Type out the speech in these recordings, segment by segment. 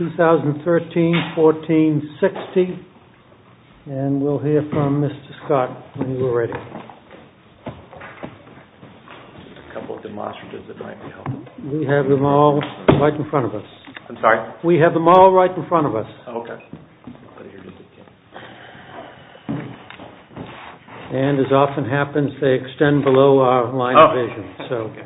2013-14-60, and we'll hear from Mr. Scott when we're ready. We have them all right in front of us. And, as often happens, they extend below our line of vision.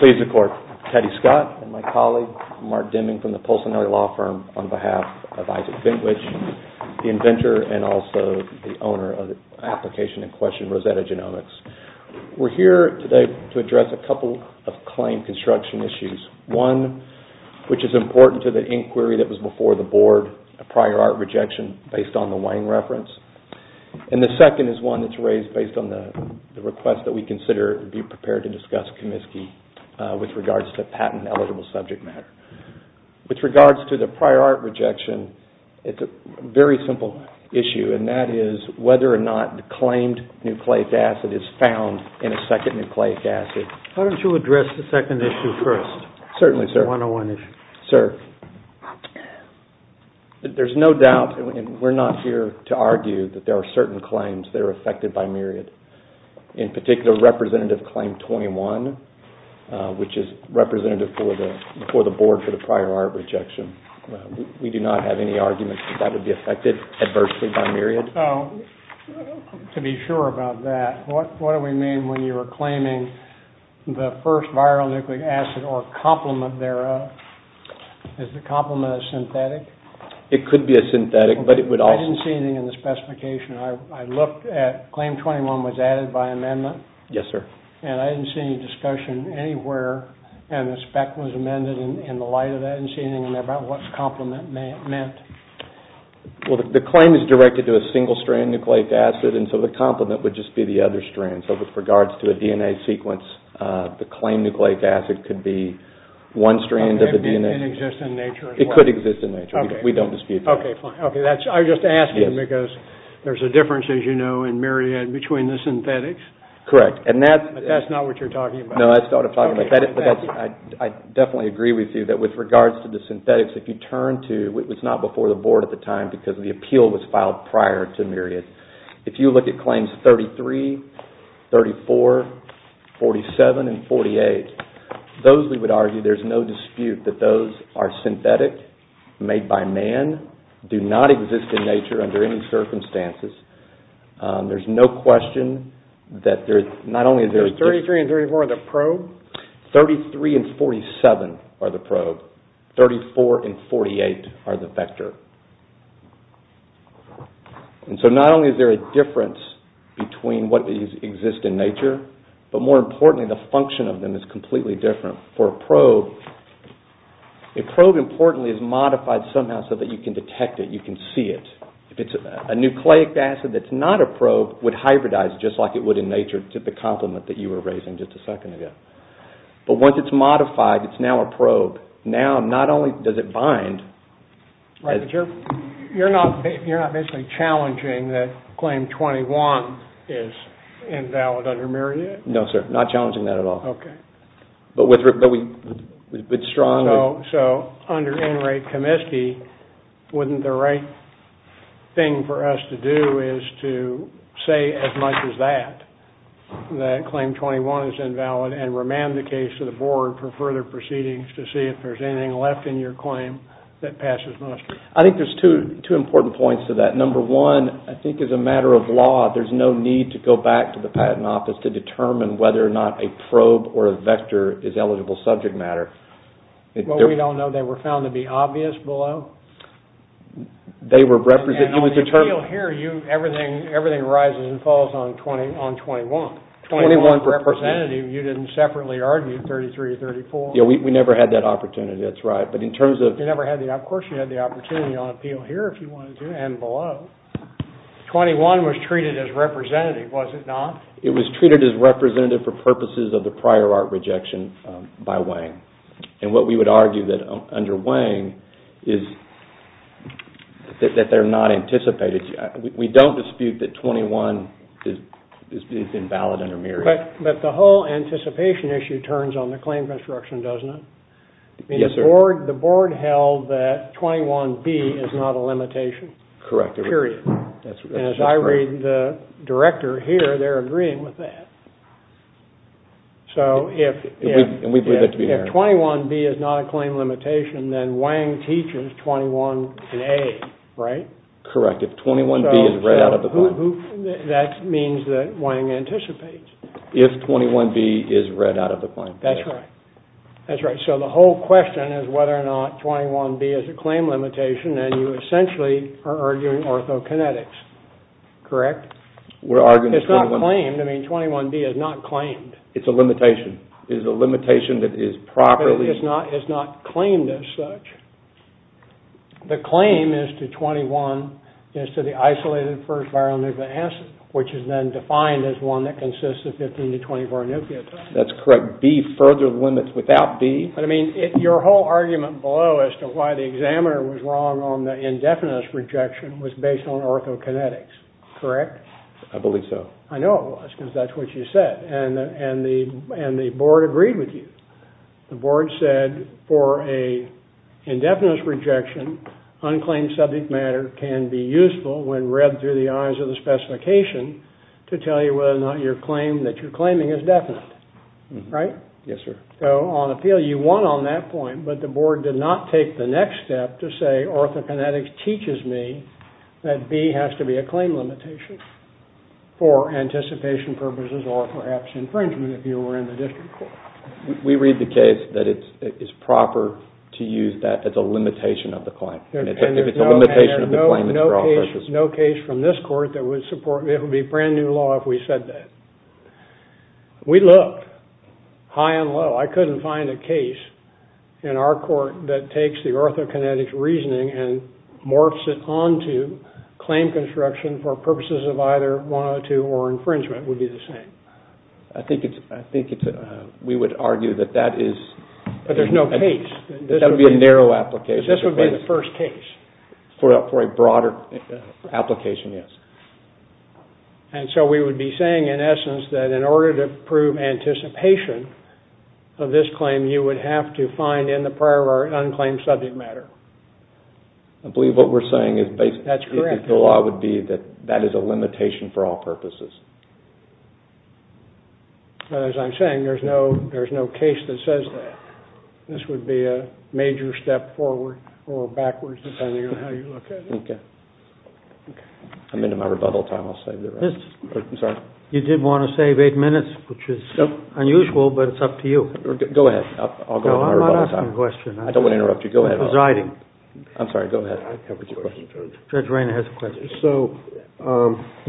Please, the court. Teddy Scott and my colleague, Mark Deming, from the Pulsanelli Law Firm, on behalf of Isaac Bentwich, the inventor and also the owner of the application in question, Rosetta Genomics. We have a couple of claim construction issues. One, which is important to the inquiry that was before the board, a prior art rejection based on the Wang reference. And the second is one that's raised based on the request that we consider be prepared to discuss Comiskey with regards to patent-eligible subject matter. With regards to the prior art rejection, it's a very simple issue, and that is whether or not the claimed nucleic acid is found in a second nucleic acid. Why don't you address the second issue first? Certainly, sir. The 101 issue. Sir, there's no doubt, and we're not here to argue, that there are certain claims that are affected by myriad. In particular, Representative Claim 21, which is representative before the board for the prior art rejection. We do not have any arguments that that would be affected adversely by myriad. To be sure about that, what do we mean when you are claiming the first viral nucleic acid or complement thereof? Is the complement a synthetic? It could be a synthetic, but it would also... I didn't see anything in the specification. I looked at... Claim 21 was added by amendment. Yes, sir. And I didn't see any discussion anywhere, and the spec was amended in the light of that. I didn't see anything about what complement meant. Well, the claim is directed to a single-strand nucleic acid, and so the complement would just be the other strand. So, with regards to a DNA sequence, the claimed nucleic acid could be one strand of the DNA... It exists in nature as well? It could exist in nature. We don't dispute that. Okay, fine. I was just asking because there's a difference, as you know, in myriad between the synthetics. Correct. But that's not what you're talking about. No, that's not what I'm talking about. I definitely agree with you that with regards to the synthetics, if you turn to... It was not before the board at the time because the appeal was filed prior to myriad. If you look at claims 33, 34, 47, and 48, those we would argue there's no dispute that those are synthetic, made by man, do not exist in nature under any circumstances. There's no question that there's not only... Is 33 and 34 the probe? 33 and 47 are the probe. 34 and 48 are the vector. And so not only is there a difference between what exists in nature, but more importantly, the function of them is completely different. For a probe, a probe, importantly, is modified somehow so that you can detect it, you can see it. If it's a nucleic acid that's not a probe, it would hybridize just like it would in nature, to the compliment that you were raising just a second ago. But once it's modified, it's now a probe. Now, not only does it bind... Right, but you're not basically challenging that claim 21 is invalid under myriad? No, sir. Not challenging that at all. Okay. But with strong... So, under NRAPE Comiskey, wouldn't the right thing for us to do is to say as much as that, that claim 21 is invalid, and remand the case to the board for further proceedings to see if there's anything left in your claim that passes muster? I think there's two important points to that. Number one, I think as a matter of law, there's no need to go back to the patent office to determine whether or not a probe or a vector is eligible subject matter. Well, we don't know. They were found to be obvious below? They were represented... On the appeal here, everything rises and falls on 21. 21 representative, you didn't separately argue 33, 34. Yeah, we never had that opportunity, that's right. But in terms of... Of course you had the opportunity on appeal here if you wanted to, and below. 21 was treated as representative, was it not? It was treated as representative for purposes of the prior art rejection by Wang. And what we would argue that under Wang is that they're not anticipated. We don't dispute that 21 is invalid under Miriam. But the whole anticipation issue turns on the claim construction, doesn't it? Yes, sir. The board held that 21B is not a limitation. Correct. Period. And as I read the director here, they're agreeing with that. So if 21B is not a claim limitation, then Wang teaches 21A, right? Correct. If 21B is read out of the claim. That means that Wang anticipates. If 21B is read out of the claim. That's right. That's right. So the whole question is whether or not 21B is a claim limitation, and you essentially are arguing orthokinetics, correct? We're arguing... It's not claimed. I mean, 21B is not claimed. It's a limitation. It is a limitation that is properly... But it is not claimed as such. The claim is to 21, is to the isolated first viral nucleic acid, which is then defined as one that consists of 15 to 24 nucleotides. That's correct. B further limits without B. But, I mean, your whole argument below as to why the examiner was wrong on the indefinite rejection was based on orthokinetics, correct? I believe so. I know it was because that's what you said, and the board agreed with you. The board said for an indefinite rejection, unclaimed subject matter can be useful when read through the eyes of the specification to tell you whether or not your claim that you're claiming is definite, right? Yes, sir. So on appeal, you won on that point, but the board did not take the next step to say orthokinetics teaches me that B has to be a claim limitation. For anticipation purposes or perhaps infringement, if you were in the district court. We read the case that it is proper to use that as a limitation of the claim. If it's a limitation of the claim, it's wrong. There's no case from this court that would support... It would be brand new law if we said that. We looked high and low. I couldn't find a case in our court that takes the orthokinetics reasoning and morphs it onto claim construction for purposes of either 102 or infringement would be the same. I think we would argue that that is... But there's no case. That would be a narrow application. This would be the first case. For a broader application, yes. And so we would be saying, in essence, that in order to prove anticipation of this claim, you would have to find in the prior unclaimed subject matter. I believe what we're saying is basically... That's correct. The law would be that that is a limitation for all purposes. As I'm saying, there's no case that says that. This would be a major step forward or backwards, depending on how you look at it. Okay. I'm into my rebuttal time. I'll save the rest. You did want to save eight minutes, which is unusual, but it's up to you. Go ahead. I'll go into my rebuttal time. No, I'm not asking a question. I don't want to interrupt you. Go ahead. I'm presiding. I'm sorry. Go ahead. Judge Rainer has a question. So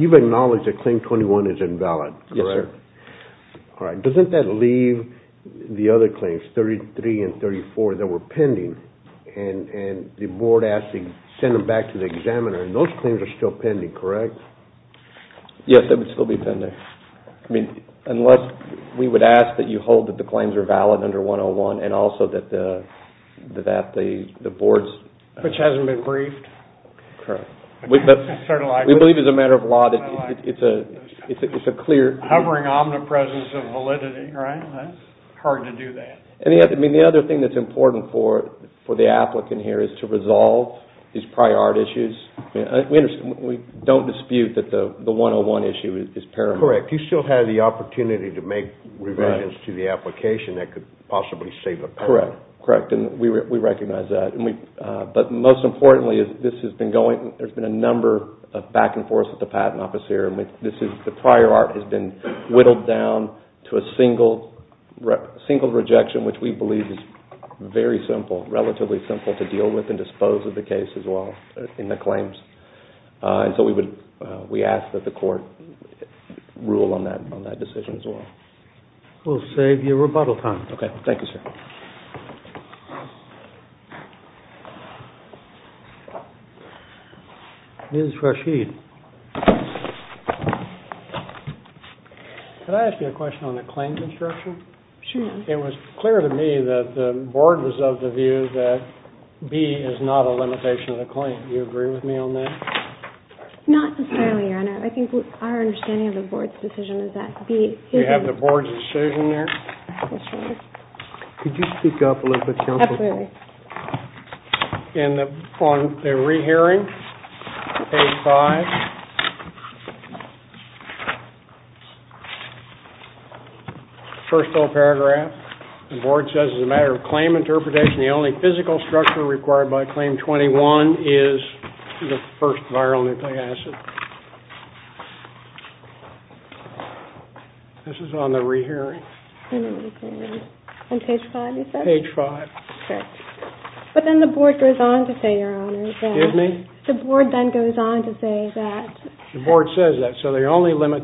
you've acknowledged that Claim 21 is invalid, correct? Yes, sir. All right. Doesn't that leave the other claims, 33 and 34, that were pending, and the board asked to send them back to the examiner, and those claims are still pending, correct? Yes, they would still be pending. I mean, unless we would ask that you hold that the claims are valid under 101 and also that the board's... Which hasn't been briefed. Correct. We believe as a matter of law that it's a clear... Hovering omnipresence of validity, right? That's hard to do that. And yet, I mean, the other thing that's important for the applicant here is to resolve these prior art issues. We don't dispute that the 101 issue is paramount. Correct. You still have the opportunity to make revisions to the application that could possibly save a patent. Correct. Correct. And we recognize that. But most importantly, this has been going... There's been a number of back and forths with the patent officer. The prior art has been whittled down to a single rejection, which we believe is very simple, relatively simple, to deal with and dispose of the case as well in the claims. And so we ask that the court rule on that decision as well. We'll save you rebuttal time. Okay. Thank you, sir. Ms. Rashid. Could I ask you a question on the claims instruction? Sure. It was clear to me that the board was of the view that B is not a limitation of the claim. Do you agree with me on that? Not necessarily, Your Honor. I think our understanding of the board's decision is that B is... You have the board's decision there? Yes, Your Honor. Could you speak up a little bit, counsel? Absolutely. And on the rehearing, page 5, first whole paragraph, the board says as a matter of claim interpretation, the only physical structure required by Claim 21 is the first viral nucleic acid. This is on the rehearing. On page 5, you said? Page 5. Okay. But then the board goes on to say, Your Honor... Excuse me? The board then goes on to say that... The board says that. So there's only one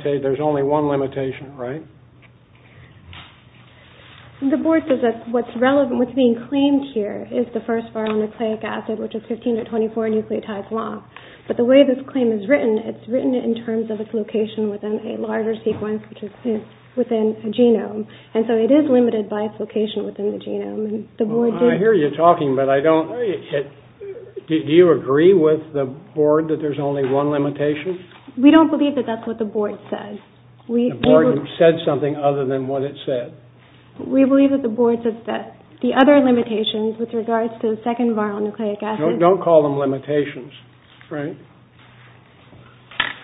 limitation, right? The board says that what's relevant, what's being claimed here is the first viral nucleic acid, which is 15 to 24 nucleotides long. But the way this claim is written, it's written in terms of its location within a larger sequence, which is within a genome. And so it is limited by its location within the genome. I hear you talking, but I don't... Do you agree with the board that there's only one limitation? We don't believe that that's what the board says. The board said something other than what it said. We believe that the board says that the other limitations with regards to the second viral nucleic acid... Don't call them limitations, right?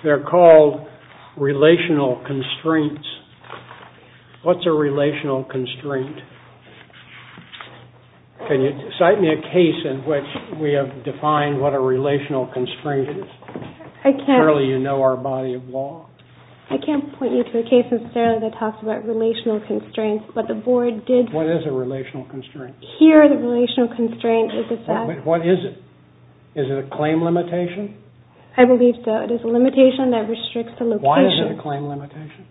They're called relational constraints. What's a relational constraint? Can you cite me a case in which we have defined what a relational constraint is? Apparently you know our body of law. I can't point you to a case necessarily that talks about relational constraints, but the board did... What is a relational constraint? Here, the relational constraint is that... What is it? Is it a claim limitation? I believe so. It is a limitation that restricts the location. Why is it a claim limitation?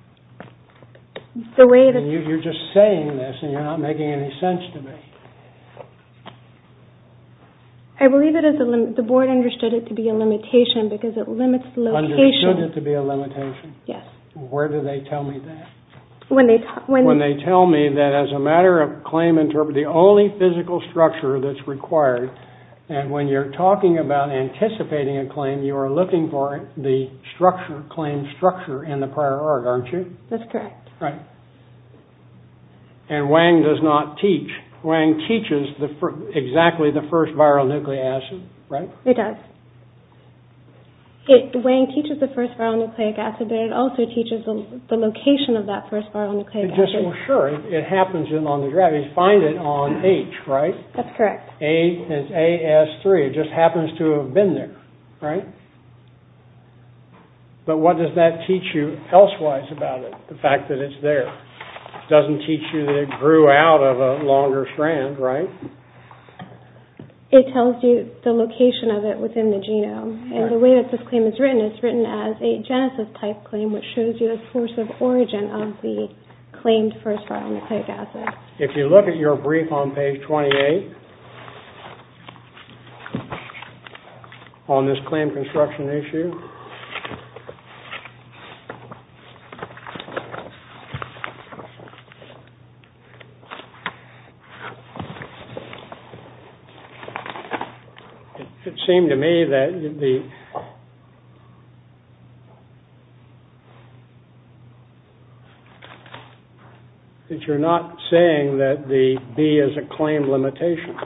You're just saying this and you're not making any sense to me. I believe the board understood it to be a limitation because it limits location. Understood it to be a limitation? Yes. Where do they tell me that? When they tell me that as a matter of claim interpretation, and when you're talking about anticipating a claim, and you're looking for the claim structure in the prior art, aren't you? That's correct. Right. And Wang does not teach. Wang teaches exactly the first viral nucleic acid, right? It does. Wang teaches the first viral nucleic acid, but it also teaches the location of that first viral nucleic acid. Sure, it happens along the graph. You find it on H, right? That's correct. And it's AS3. It just happens to have been there, right? But what does that teach you elsewise about it, the fact that it's there? It doesn't teach you that it grew out of a longer strand, right? It tells you the location of it within the genome. And the way that this claim is written, it's written as a genesis-type claim, which shows you the source of origin of the claimed first viral nucleic acid. If you look at your brief on page 28 on this claim construction issue, it seemed to me that the... that you're not saying that the B is a claim limitation.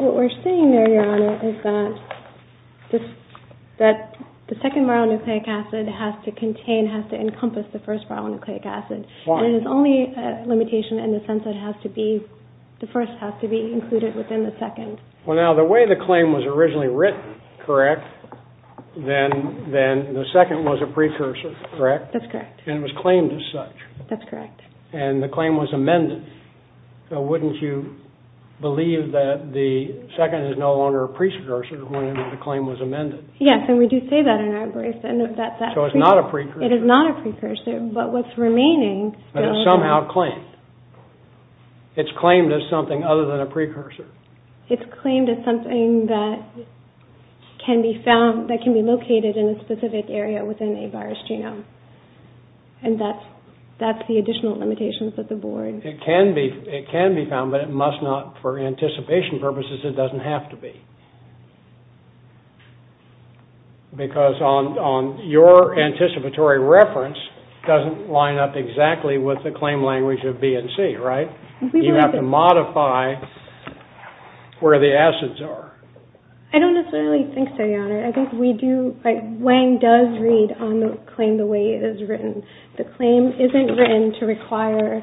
What we're saying there, Your Honor, is that the B is a claim limitation. And that the second viral nucleic acid has to contain, has to encompass the first viral nucleic acid. Why? And it's only a limitation in the sense that it has to be, the first has to be included within the second. Well, now, the way the claim was originally written, correct, then the second was a precursor, correct? That's correct. And it was claimed as such. That's correct. And the claim was amended. So wouldn't you believe that the second is no longer a precursor when the claim was amended? Yes, and we do say that in our brief. So it's not a precursor? It is not a precursor. But what's remaining... But it's somehow claimed. It's claimed as something other than a precursor. It's claimed as something that can be found, that can be located in a specific area within a virus genome. And that's the additional limitations that the board... It can be found, but it must not, for anticipation purposes, it doesn't have to be. Because your anticipatory reference doesn't line up exactly with the claim language of B and C, right? You have to modify where the acids are. I don't necessarily think so, Your Honor. I think we do... Wang does read on the claim the way it is written. The claim isn't written to require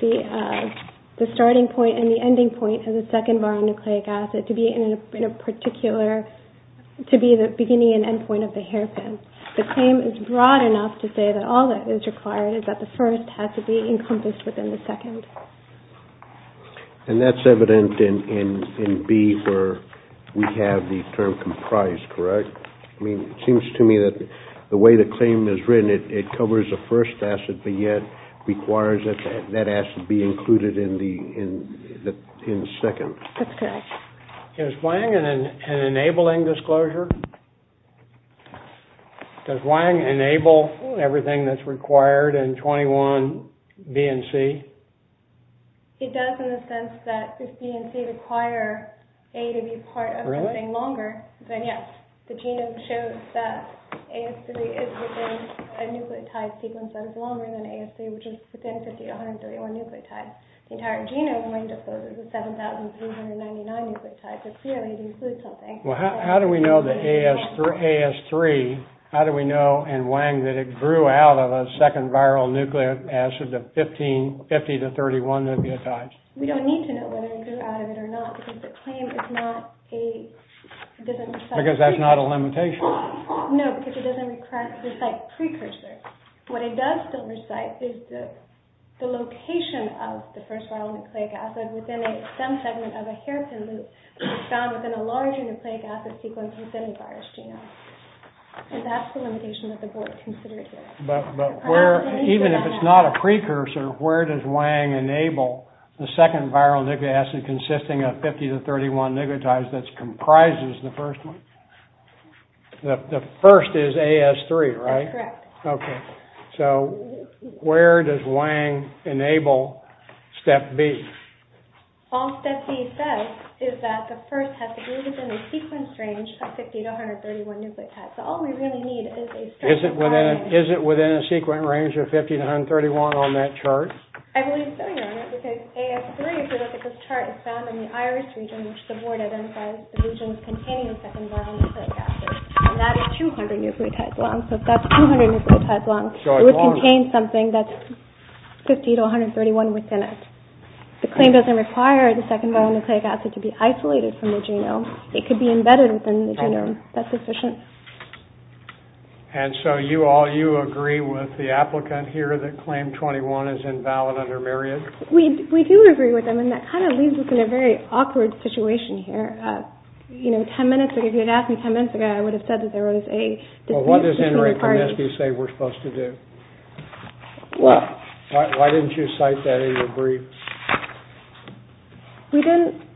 the starting point and the ending point of the second boron nucleic acid to be in a particular... to be the beginning and end point of the hairpin. The claim is broad enough to say that all that is required is that the first has to be encompassed within the second. And that's evident in B, where we have the term comprised, correct? I mean, it seems to me that the way the claim is written, it covers the first acid, but yet requires that that acid be included in the second. That's correct. Is Wang an enabling disclosure? Does Wang enable everything that's required in 21B and C? It does in the sense that if B and C require A to be part of something longer, then yes. The genome shows that AS3 is within a nucleotide sequence that is longer than AS3, which is within 50 to 131 nucleotides. The entire genome, Wang discloses 7,399 nucleotides. It clearly includes something. Well, how do we know that AS3... How do we know, in Wang, that it grew out of a second viral nucleotide of 50 to 31 nucleotides? We don't need to know whether it grew out of it or not because the claim is not a... Because that's not a limitation. No, because it doesn't require to recite precursors. What it does still recite is the location of the first viral nucleic acid within a stem segment of a hairpin loop found within a larger nucleic acid sequence within a virus genome. And that's the limitation that the board considered here. But where... Even if it's not a precursor, where does Wang enable the second viral nucleic acid consisting of 50 to 31 nucleotides that comprises the first one? The first is AS3, right? That's correct. Okay. All step B says is that the first has to be within a sequence range of 50 to 131 nucleotides. So all we really need is a... Is it within a sequence range of 50 to 131 on that chart? I believe so, Your Honor, because AS3, if you look at this chart, is found in the iris region, which the board identified as the region containing the second viral nucleic acid. And that is 200 nucleotides long. So if that's 200 nucleotides long, it would contain something that's 50 to 131 within it. The claim doesn't require the second viral nucleic acid to be isolated from the genome. It could be embedded within the genome. That's sufficient. And so you all... You agree with the applicant here that claim 21 is invalid under Myriad? We do agree with them, and that kind of leaves us in a very awkward situation here. You know, 10 minutes ago, if you had asked me 10 minutes ago, I would have said that there was a... Well, what does Ingrid Kornesky say we're supposed to do? Well... Why didn't you cite that in your brief? We didn't...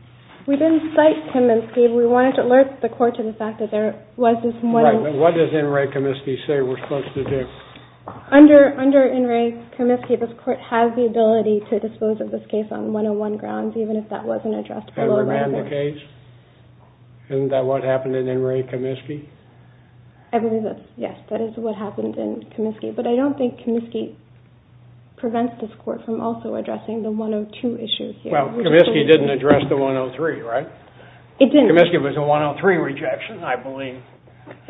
We didn't cite Kominsky. We wanted to alert the court to the fact that there was this... Right, but what does Ingrid Kominsky say we're supposed to do? Under Ingrid Kominsky, this court has the ability to dispose of this case on one-on-one grounds, even if that wasn't addressed... And remand the case? Isn't that what happened in Ingrid Kominsky? I believe that's... Yes, that is what happened in Kominsky. But I don't think Kominsky prevents this court from also addressing the 102 issue here. Well, Kominsky didn't address the 103, right? It didn't. Kominsky was a 103 rejection, I believe.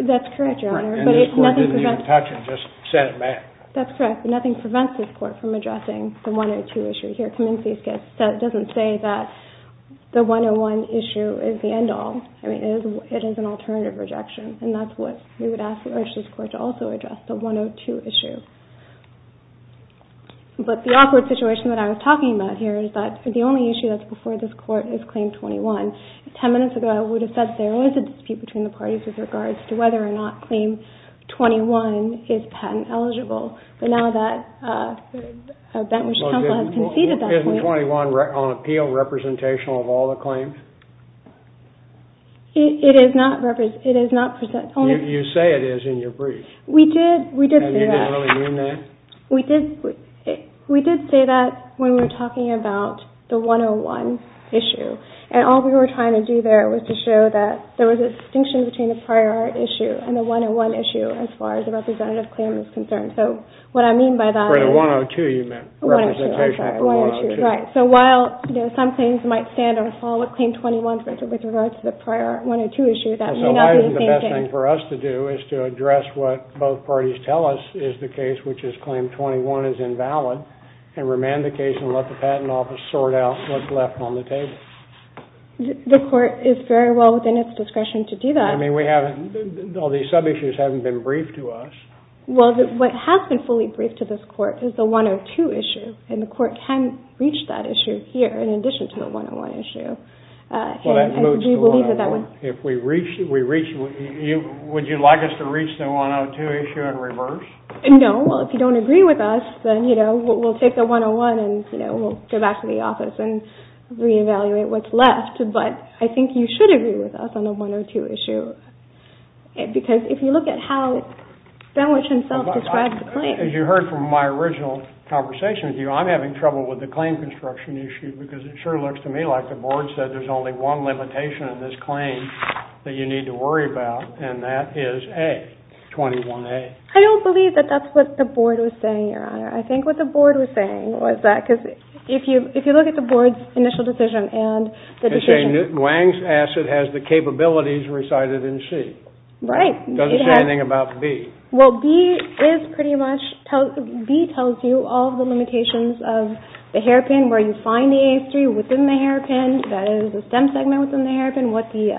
That's correct, Your Honor. And this court didn't even touch it, just sent it back. That's correct. Nothing prevents this court from addressing the 102 issue here. Kominsky doesn't say that the 101 issue is the end-all. I mean, it is an alternative rejection, and that's what we would ask or urge this court to also address, the 102 issue. But the awkward situation that I was talking about here is that the only issue that's before this court is Claim 21. Ten minutes ago, I would have said there was a dispute between the parties with regards to whether or not Claim 21 is patent-eligible. But now that a bench counsel has conceded that point... Isn't 21 on appeal representational of all the claims? It is not representational. You say it is in your brief. We did say that. You didn't really mean that? We did say that when we were talking about the 101 issue. And all we were trying to do there was to show that there was a distinction between the prior art issue and the 101 issue as far as the representative claim is concerned. So what I mean by that is... For the 102, you meant. 102, I'm sorry. 102. Right. So while some claims might stand or fall with Claim 21, with regards to the prior art 102 issue, that may not mean the same thing. So why isn't the best thing for us to do is to address what both parties tell us is the case, which is Claim 21 is invalid, and remand the case and let the Patent Office sort out what's left on the table. The Court is very well within its discretion to do that. I mean, we haven't... All these sub-issues haven't been briefed to us. Well, what has been fully briefed to this Court is the 102 issue. And the Court can reach that issue here in addition to the 101 issue. Well, that moves the line. If we reach... Would you like us to reach the 102 issue in reverse? No. Well, if you don't agree with us, then, you know, we'll take the 101 and, you know, we'll go back to the office and re-evaluate what's left. But I think you should agree with us on the 102 issue. Because if you look at how Benwich himself described the claim... As you heard from my original conversation with you, I'm having trouble with the claim construction issue because it sure looks to me like the Board said there's only one limitation in this claim that you need to worry about, and that is A, 21A. I don't believe that that's what the Board was saying, Your Honor. I think what the Board was saying was that... Because if you look at the Board's initial decision and the decision... They say Wang's asset has the capabilities recited in C. Right. It doesn't say anything about B. Well, B is pretty much... B tells you all the limitations of the hairpin where you find the AS3 within the hairpin, that is, the stem segment within the hairpin, what the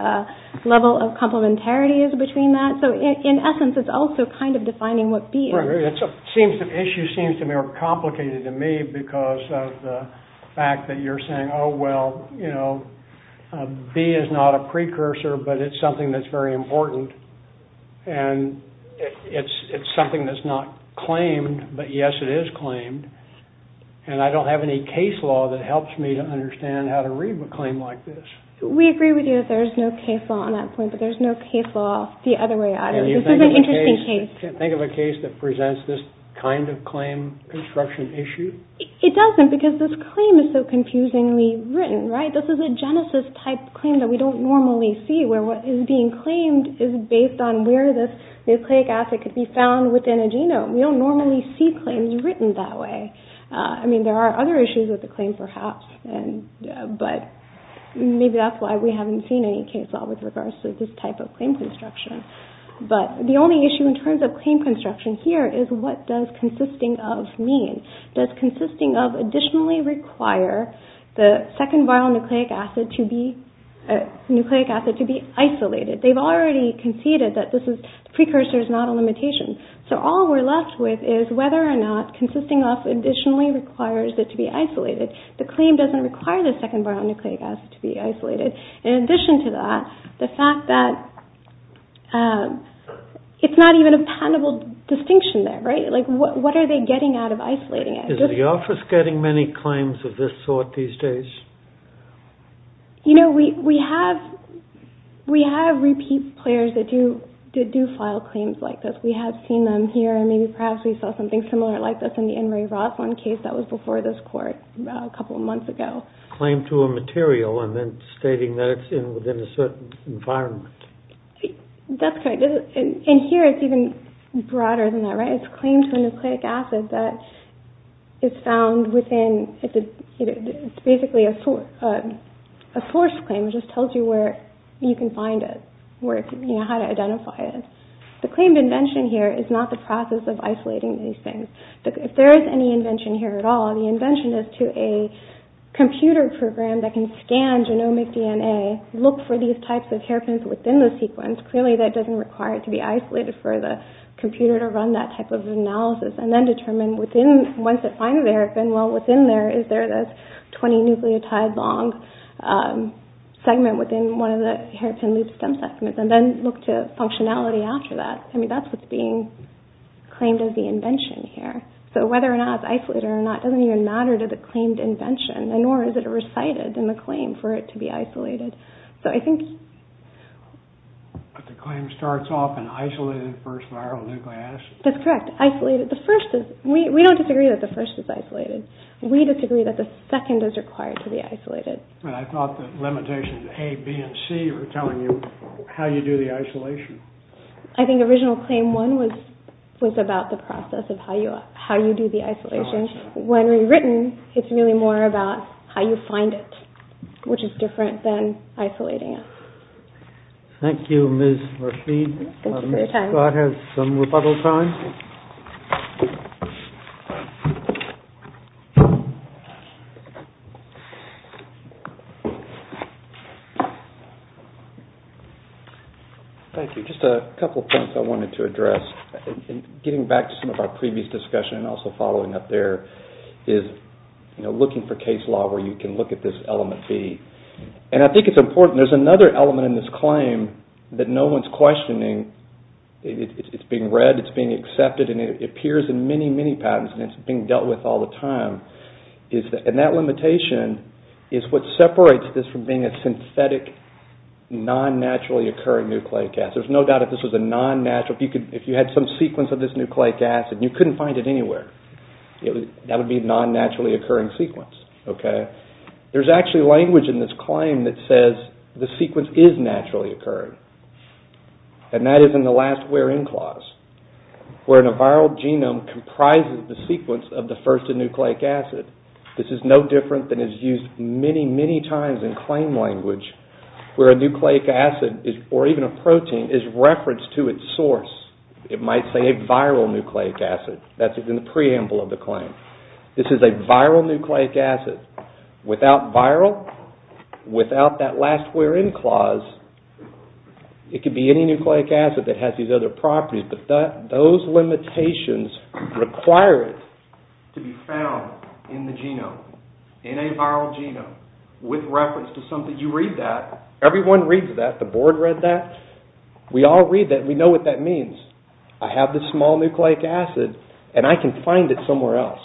level of complementarity is between that. So in essence, it's also kind of defining what B is. Right. The issue seems to be more complicated to me because of the fact that you're saying, oh, well, you know, B is not a precursor, but it's something that's very important. And it's something that's not claimed, but, yes, it is claimed. And I don't have any case law that helps me to understand how to read a claim like this. We agree with you that there's no case law on that point, but there's no case law the other way around. This is an interesting case. Can you think of a case that presents this kind of claim construction issue? It doesn't because this claim is so confusingly written, right? This is a genesis-type claim that we don't normally see where what is being claimed is based on where this nucleic acid could be found within a genome. We don't normally see claims written that way. I mean, there are other issues with the claim perhaps, but maybe that's why we haven't seen any case law with regards to this type of claim construction. But the only issue in terms of claim construction here is what does consisting of mean? Does consisting of additionally require the second viral nucleic acid to be isolated? They've already conceded that the precursor is not a limitation. So all we're left with is whether or not consisting of additionally requires it to be isolated. The claim doesn't require the second viral nucleic acid to be isolated. In addition to that, the fact that it's not even a patentable distinction there, right? What are they getting out of isolating it? Is the office getting many claims of this sort these days? You know, we have repeat players that do file claims like this. We have seen them here and maybe perhaps we saw something similar like this in the Roslin case that was before this court a couple of months ago. Claim to a material and then stating that it's within a certain environment. That's right. And here it's even broader than that, right? It's a claim to a nucleic acid that is found within, it's basically a source claim, which just tells you where you can find it, where it's, you know, how to identify it. The claim invention here is not the process of isolating these things. If there is any invention here at all, the invention is to a computer program that can scan genomic DNA, look for these types of hairpins within the sequence. Clearly that doesn't require it to be isolated for the computer to run that type of analysis and then determine within, once it finds the hairpin, well, within there, is there this 20 nucleotide long segment within one of the hairpin loop stem segments and then look to functionality after that. I mean, that's what's being claimed as the invention here. So whether or not it's isolated or not doesn't even matter to the claimed invention and nor is it recited in the claim for it to be isolated. So I think... But the claim starts off in isolated first viral nucleic acid. That's correct. Isolated. The first is, we don't disagree that the first is isolated. We disagree that the second is required to be isolated. But I thought the limitations, A, B, and C, were telling you how you do the isolation. I think original claim one was about the process of how you do the isolation. When rewritten, it's really more about how you find it, which is different than isolating it. Thank you, Ms. Rashid. Ms. Scott has some rebuttal time. Thank you. Just a couple of points I wanted to address. Getting back to some of our previous discussion and also following up there is looking for case law where you can look at this element B. And I think it's important. There's another element in this claim that no one's questioning. It's being read. It's being accepted. And it appears in many, many patents. And it's being dealt with all the time. And that limitation is what separates this from being a synthetic, non-naturally occurring nucleic acid. There's no doubt if this was a non-natural... If you had some sequence of this nucleic acid, and you couldn't find it anywhere, that would be a non-naturally occurring sequence. There's actually language in this claim that says the sequence is naturally occurring. And that is in the last where in clause. Where in a viral genome comprises the sequence of the first nucleic acid. This is no different than is used many, many times in claim language where a nucleic acid or even a protein is referenced to its source. It might say a viral nucleic acid. That's in the preamble of the claim. This is a viral nucleic acid. Without viral, without that last where in clause, it could be any nucleic acid that has these other properties. But those limitations require it to be found in the genome, in a viral genome, with reference to something. You read that. Everyone reads that. The board read that. We all read that. We know what that means. I have this small nucleic acid, and I can find it somewhere else.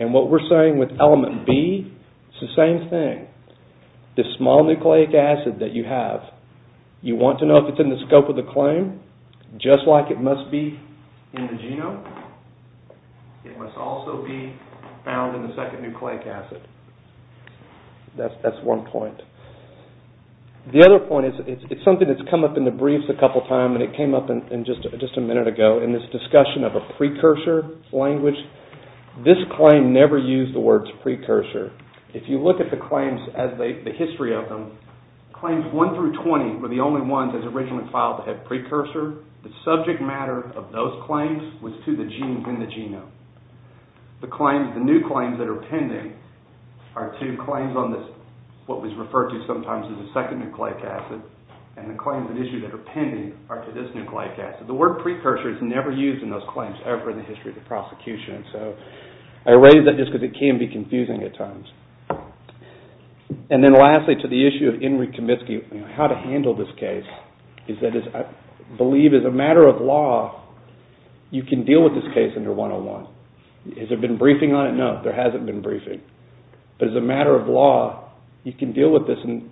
And what we're saying with element B, it's the same thing. This small nucleic acid that you have, you want to know if it's in the scope of the claim, just like it must be in the genome. It must also be found in the second nucleic acid. That's one point. The other point is it's something that's come up in the briefs a couple times, and it came up just a minute ago in this discussion of a precursor language. This claim never used the words precursor. If you look at the claims, the history of them, claims 1 through 20 were the only ones that were originally filed that had precursor. The subject matter of those claims was to the genes in the genome. The new claims that are pending are to claims on this, what was referred to sometimes as a second nucleic acid, and the claims that issue that are pending are to this nucleic acid. The word precursor is never used in those claims, ever in the history of the prosecution. I raise that just because it can be confusing at times. And then lastly, to the issue of Enrique Comiskey, how to handle this case. I believe as a matter of law, you can deal with this case under 101. Has there been briefing on it? No, there hasn't been briefing. But as a matter of law, you can deal with this, and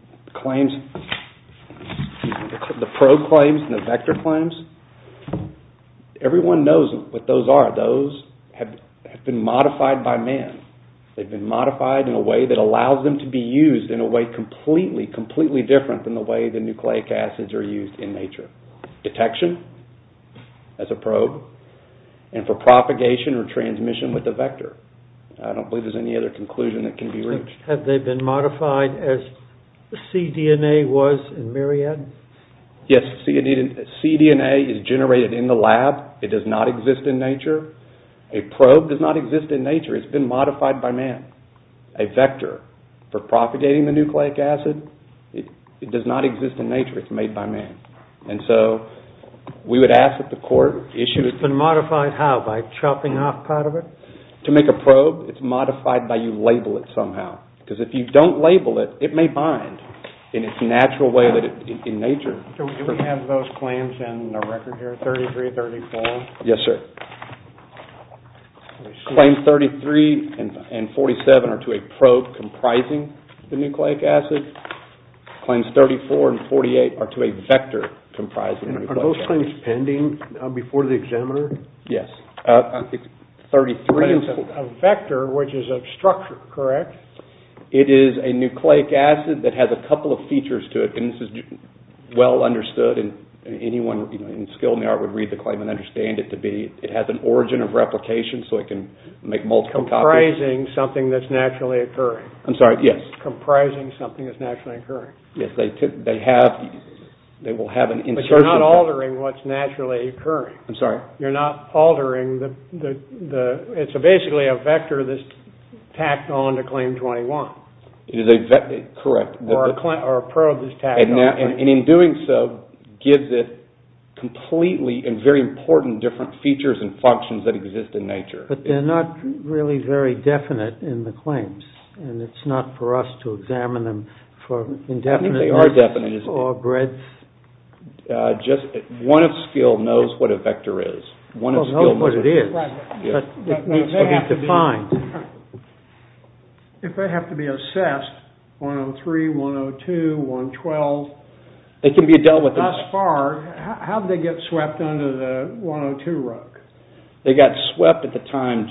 the probe claims and the vector claims, everyone knows what those are. Those have been modified by man. They've been modified in a way that allows them to be used in a way completely, completely different than the way the nucleic acids are used in nature. Detection as a probe, and for propagation or transmission with the vector. I don't believe there's any other conclusion that can be reached. Have they been modified as cDNA was in myriad? Yes, cDNA is generated in the lab. It does not exist in nature. A probe does not exist in nature. It's been modified by man. A vector for propagating the nucleic acid, it does not exist in nature. It's made by man. And so we would ask that the court issue it. It's been modified how, by chopping off part of it? To make a probe, it's modified by you label it somehow. Because if you don't label it, it may bind in its natural way in nature. Do we have those claims in the record here, 33, 34? Yes, sir. Claims 33 and 47 are to a probe comprising the nucleic acid. Claims 34 and 48 are to a vector comprising the nucleic acid. Are those claims pending before the examiner? Yes. A vector, which is a structure, correct? It is a nucleic acid that has a couple of features to it. And this is well understood. And anyone in skill in the art would read the claim and understand it to be, it has an origin of replication so it can make multiple copies. Comprising something that's naturally occurring. I'm sorry, yes. Comprising something that's naturally occurring. Yes, they have, they will have an insertion. But you're not altering what's naturally occurring. I'm sorry? You're not altering the, it's basically a vector that's tacked on to claim 21. Correct. Or a probe is tacked on. And in doing so gives it completely and very important different features and functions that exist in nature. But they're not really very definite in the claims. And it's not for us to examine them for indefiniteness. I think they are definite, isn't it? Or breadth. Just one of skill knows what a vector is. One of skill knows what it is. Right. But it needs to be defined. If they have to be assessed, 103, 102, 112. They can be dealt with. Thus far, how did they get swept under the 102 rug? They got swept at the time,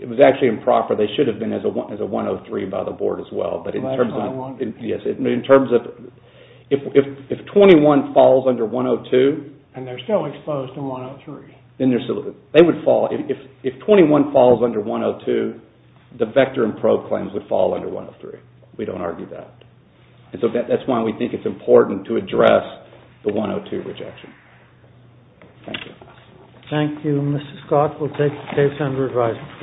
it was actually improper. They should have been as a 103 by the board as well. But in terms of, if 21 falls under 102. And they're still exposed to 103. They would fall. If 21 falls under 102, the vector and probe claims would fall under 103. We don't argue that. And so that's why we think it's important to address the 102 rejection. Thank you. Thank you, Mr. Scott. We'll take the case under revising.